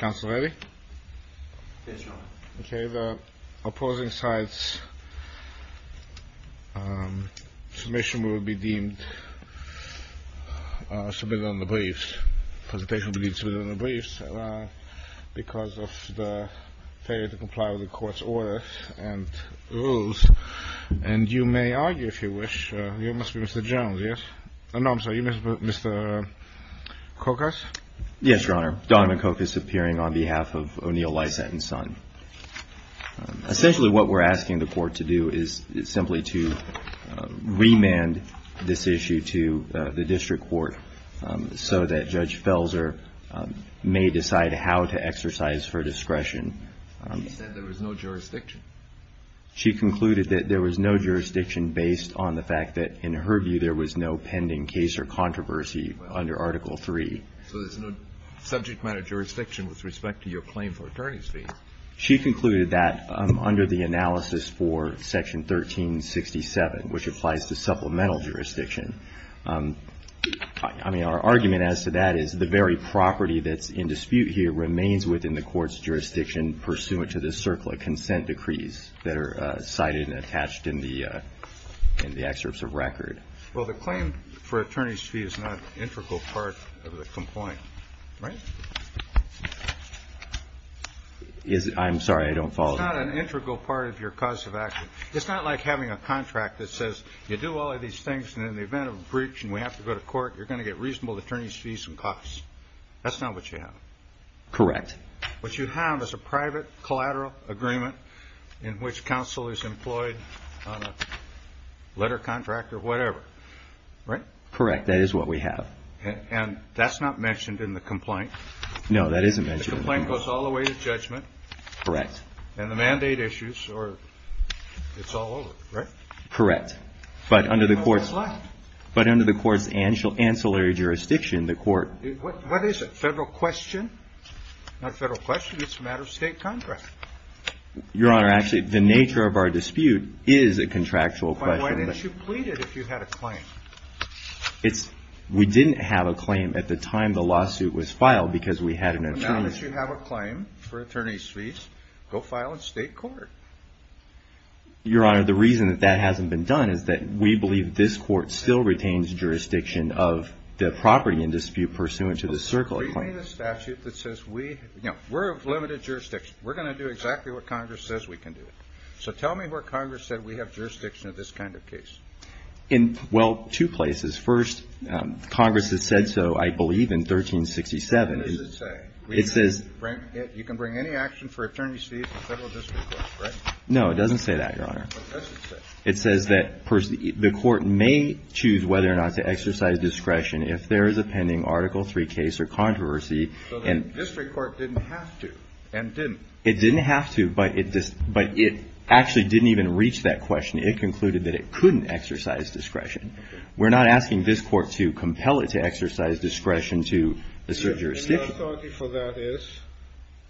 The opposing side's presentation will be deemed submitted on the briefs because of the failure to comply with the court's orders and rules. And you may argue, if you wish, you must be Mr. Jones, yes? No, I'm sorry, are you Mr. Kokus? Yes, Your Honor, Don McKokus appearing on behalf of O'Neill Lysaght and Son. Essentially what we're asking the court to do is simply to remand this issue to the district court so that Judge Felser may decide how to exercise her discretion. She said there was no jurisdiction? She concluded that there was no jurisdiction based on the fact that, in her view, there was no pending case or controversy under Article III. So there's no subject matter jurisdiction with respect to your claim for attorney's fees? She concluded that under the analysis for Section 1367, which applies to supplemental jurisdiction. I mean, our argument as to that is the very property that's in dispute here remains within the court's jurisdiction pursuant to the CERCLA consent decrees that are cited and attached in the excerpts of record. Well, the claim for attorney's fee is not an integral part of the complaint, right? I'm sorry, I don't follow. It's not an integral part of your cause of action. It's not like having a contract that says you do all of these things and in the event of a breach and we have to go to court, you're going to get reasonable attorney's fees and costs. That's not what you have. Correct. What you have is a private collateral agreement in which counsel is employed on a letter contract or whatever, right? Correct. That is what we have. And that's not mentioned in the complaint? No, that isn't mentioned in the complaint. The complaint goes all the way to judgment. Correct. And the mandate issues, it's all over, right? Correct. But under the court's ancillary jurisdiction, the court... What is it? Federal question? Not a federal question. It's a matter of state contract. Your Honor, actually, the nature of our dispute is a contractual question. Why didn't you plead it if you had a claim? We didn't have a claim at the time the lawsuit was filed because we had an attorney... Now that you have a claim for attorney's fees, go file in state court. Your Honor, the reason that that hasn't been done is that we believe this court still retains jurisdiction of the property in dispute pursuant to the circle of claims. We have limited jurisdiction. We're going to do exactly what Congress says we can do. So tell me where Congress said we have jurisdiction of this kind of case. Well, two places. First, Congress has said so, I believe, in 1367. What does it say? It says... You can bring any action for attorney's fees to the federal district court, right? No, it doesn't say that, Your Honor. It doesn't say. It says that the court may choose whether or not to exercise discretion if there is a pending Article III case or controversy. So the district court didn't have to and didn't. It didn't have to, but it actually didn't even reach that question. It concluded that it couldn't exercise discretion. We're not asking this court to compel it to exercise discretion to assert jurisdiction. So the authority for that is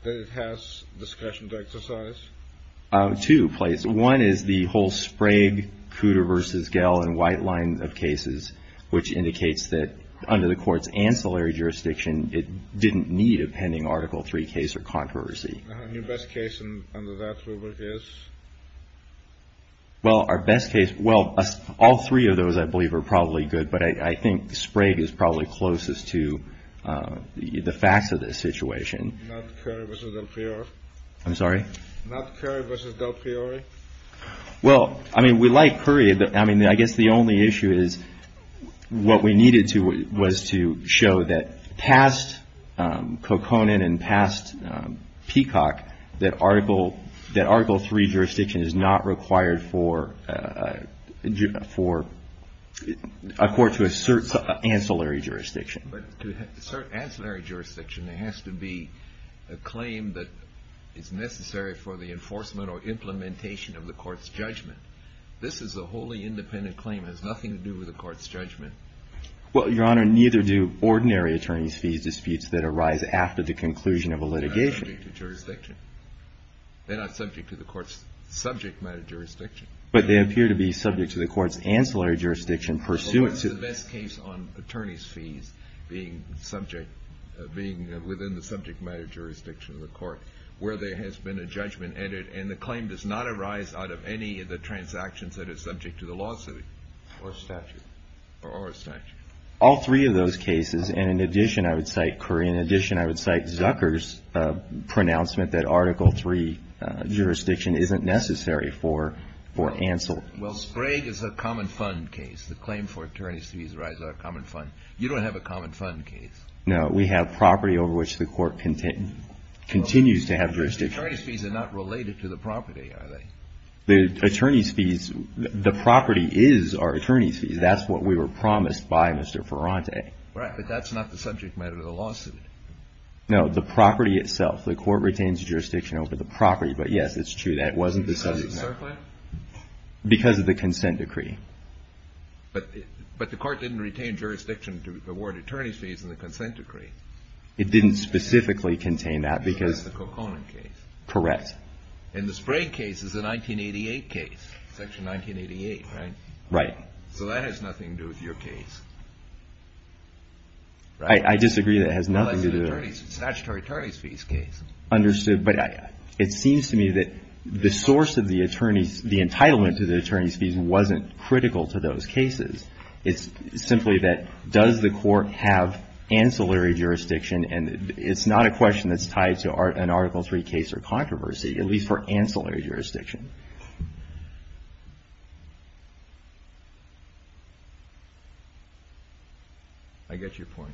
that it has discretion to exercise? Two places. One is the whole Sprague, Cooter v. Gell, and White line of cases, which indicates that under the court's ancillary jurisdiction, it didn't need a pending Article III case or controversy. Your best case under that rubric is? Well, our best case... Well, all three of those, I believe, are probably good, but I think Sprague is probably closest to the facts of this situation. Not Currie v. Del Fiore? I'm sorry? Not Currie v. Del Fiore? Well, I mean, we like Currie. I mean, I guess the only issue is what we needed to was to show that past Koconen and past Peacock, that Article III jurisdiction is not required for a court to assert ancillary jurisdiction. But to assert ancillary jurisdiction, there has to be a claim that is necessary for the enforcement or implementation of the court's judgment. This is a wholly independent claim. It has nothing to do with the court's judgment. Well, Your Honor, neither do ordinary attorney's fees disputes that arise after the conclusion of a litigation. They're not subject to jurisdiction. They're not subject to the court's subject matter jurisdiction. But they appear to be subject to the court's ancillary jurisdiction pursuant to... Well, what's the best case on attorney's fees being subject, being within the subject matter jurisdiction of the court, where there has been a judgment added and the claim does not arise out of any of the transactions that are subject to the lawsuit? Or statute. Or statute. All three of those cases. And in addition, I would cite Curry. In addition, I would cite Zucker's pronouncement that Article III jurisdiction isn't necessary for ancillary. Well, Sprague is a common fund case. The claim for attorney's fees arises out of a common fund. You don't have a common fund case. No, we have property over which the court continues to have jurisdiction. Attorney's fees are not related to the property, are they? The attorney's fees, the property is our attorney's fees. That's what we were promised by Mr. Ferrante. Right, but that's not the subject matter of the lawsuit. No, the property itself. The court retains jurisdiction over the property. But, yes, it's true. That wasn't the subject matter. Because of the surplus? Because of the consent decree. But the court didn't retain jurisdiction to award attorney's fees in the consent decree. It didn't specifically contain that because... Because that's the Cocona case. Correct. And the Sprague case is a 1988 case, Section 1988, right? Right. So that has nothing to do with your case, right? I disagree that it has nothing to do with it. Well, it's a statutory attorney's fees case. Understood. But it seems to me that the source of the entitlement to the attorney's fees wasn't critical to those cases. It's simply that does the court have ancillary jurisdiction? And it's not a question that's tied to an Article III case or controversy, at least for ancillary jurisdiction. I get your point.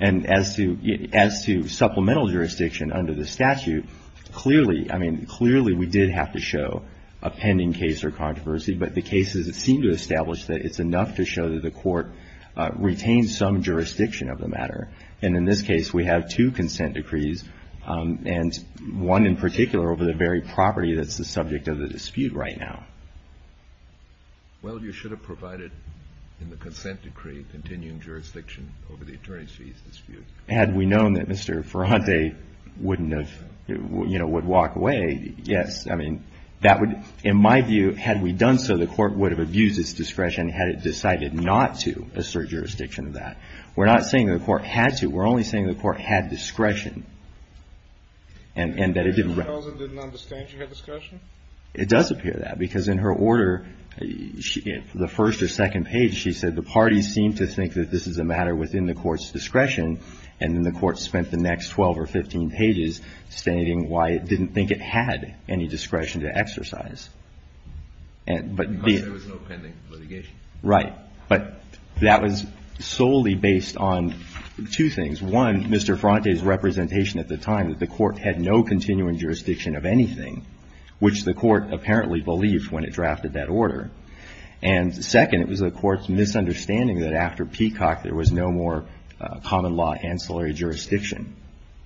And as to supplemental jurisdiction under the statute, clearly, I mean, clearly we did have to show a pending case or controversy. But the cases that seem to establish that it's enough to show that the court retained some jurisdiction of the matter. And in this case, we have two consent decrees, and one in particular over the very property that's the subject of the dispute right now. Well, you should have provided in the consent decree continuing jurisdiction over the attorney's fees dispute. Had we known that Mr. Ferrante wouldn't have, you know, would walk away, yes. I mean, that would, in my view, had we done so, the court would have abused its discretion had it decided not to assert jurisdiction of that. We're not saying the court had to. We're only saying the court had discretion and that it didn't. It doesn't appear that, because in her order, the first or second page, she said the parties seem to think that this is a matter within the court's discretion. And then the court spent the next 12 or 15 pages stating why it didn't think it had any discretion to exercise. Because there was no pending litigation. Right. But that was solely based on two things. One, Mr. Ferrante's representation at the time that the court had no continuing jurisdiction of anything, which the court apparently believed when it drafted that order. And second, it was the court's misunderstanding that after Peacock, there was no more common law ancillary jurisdiction.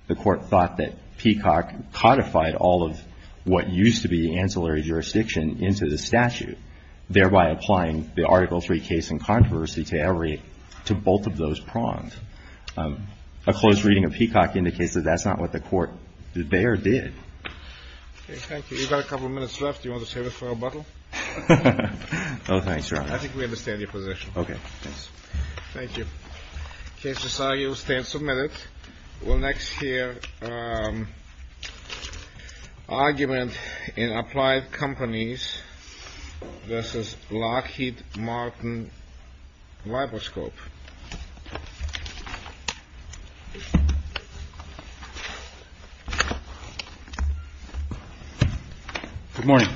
The court thought that Peacock codified all of what used to be ancillary jurisdiction into the statute, thereby applying the Article III case in controversy to both of those prongs. A close reading of Peacock indicates that that's not what the court did there or did. Okay. Thank you. We've got a couple of minutes left. Do you want to save it for a bottle? Oh, thanks, Your Honor. I think we understand your position. Okay. Thanks. Thank you. Case decided. You stand submitted. We'll next hear argument in Applied Companies v. Lockheed Martin Libroscope. Good morning.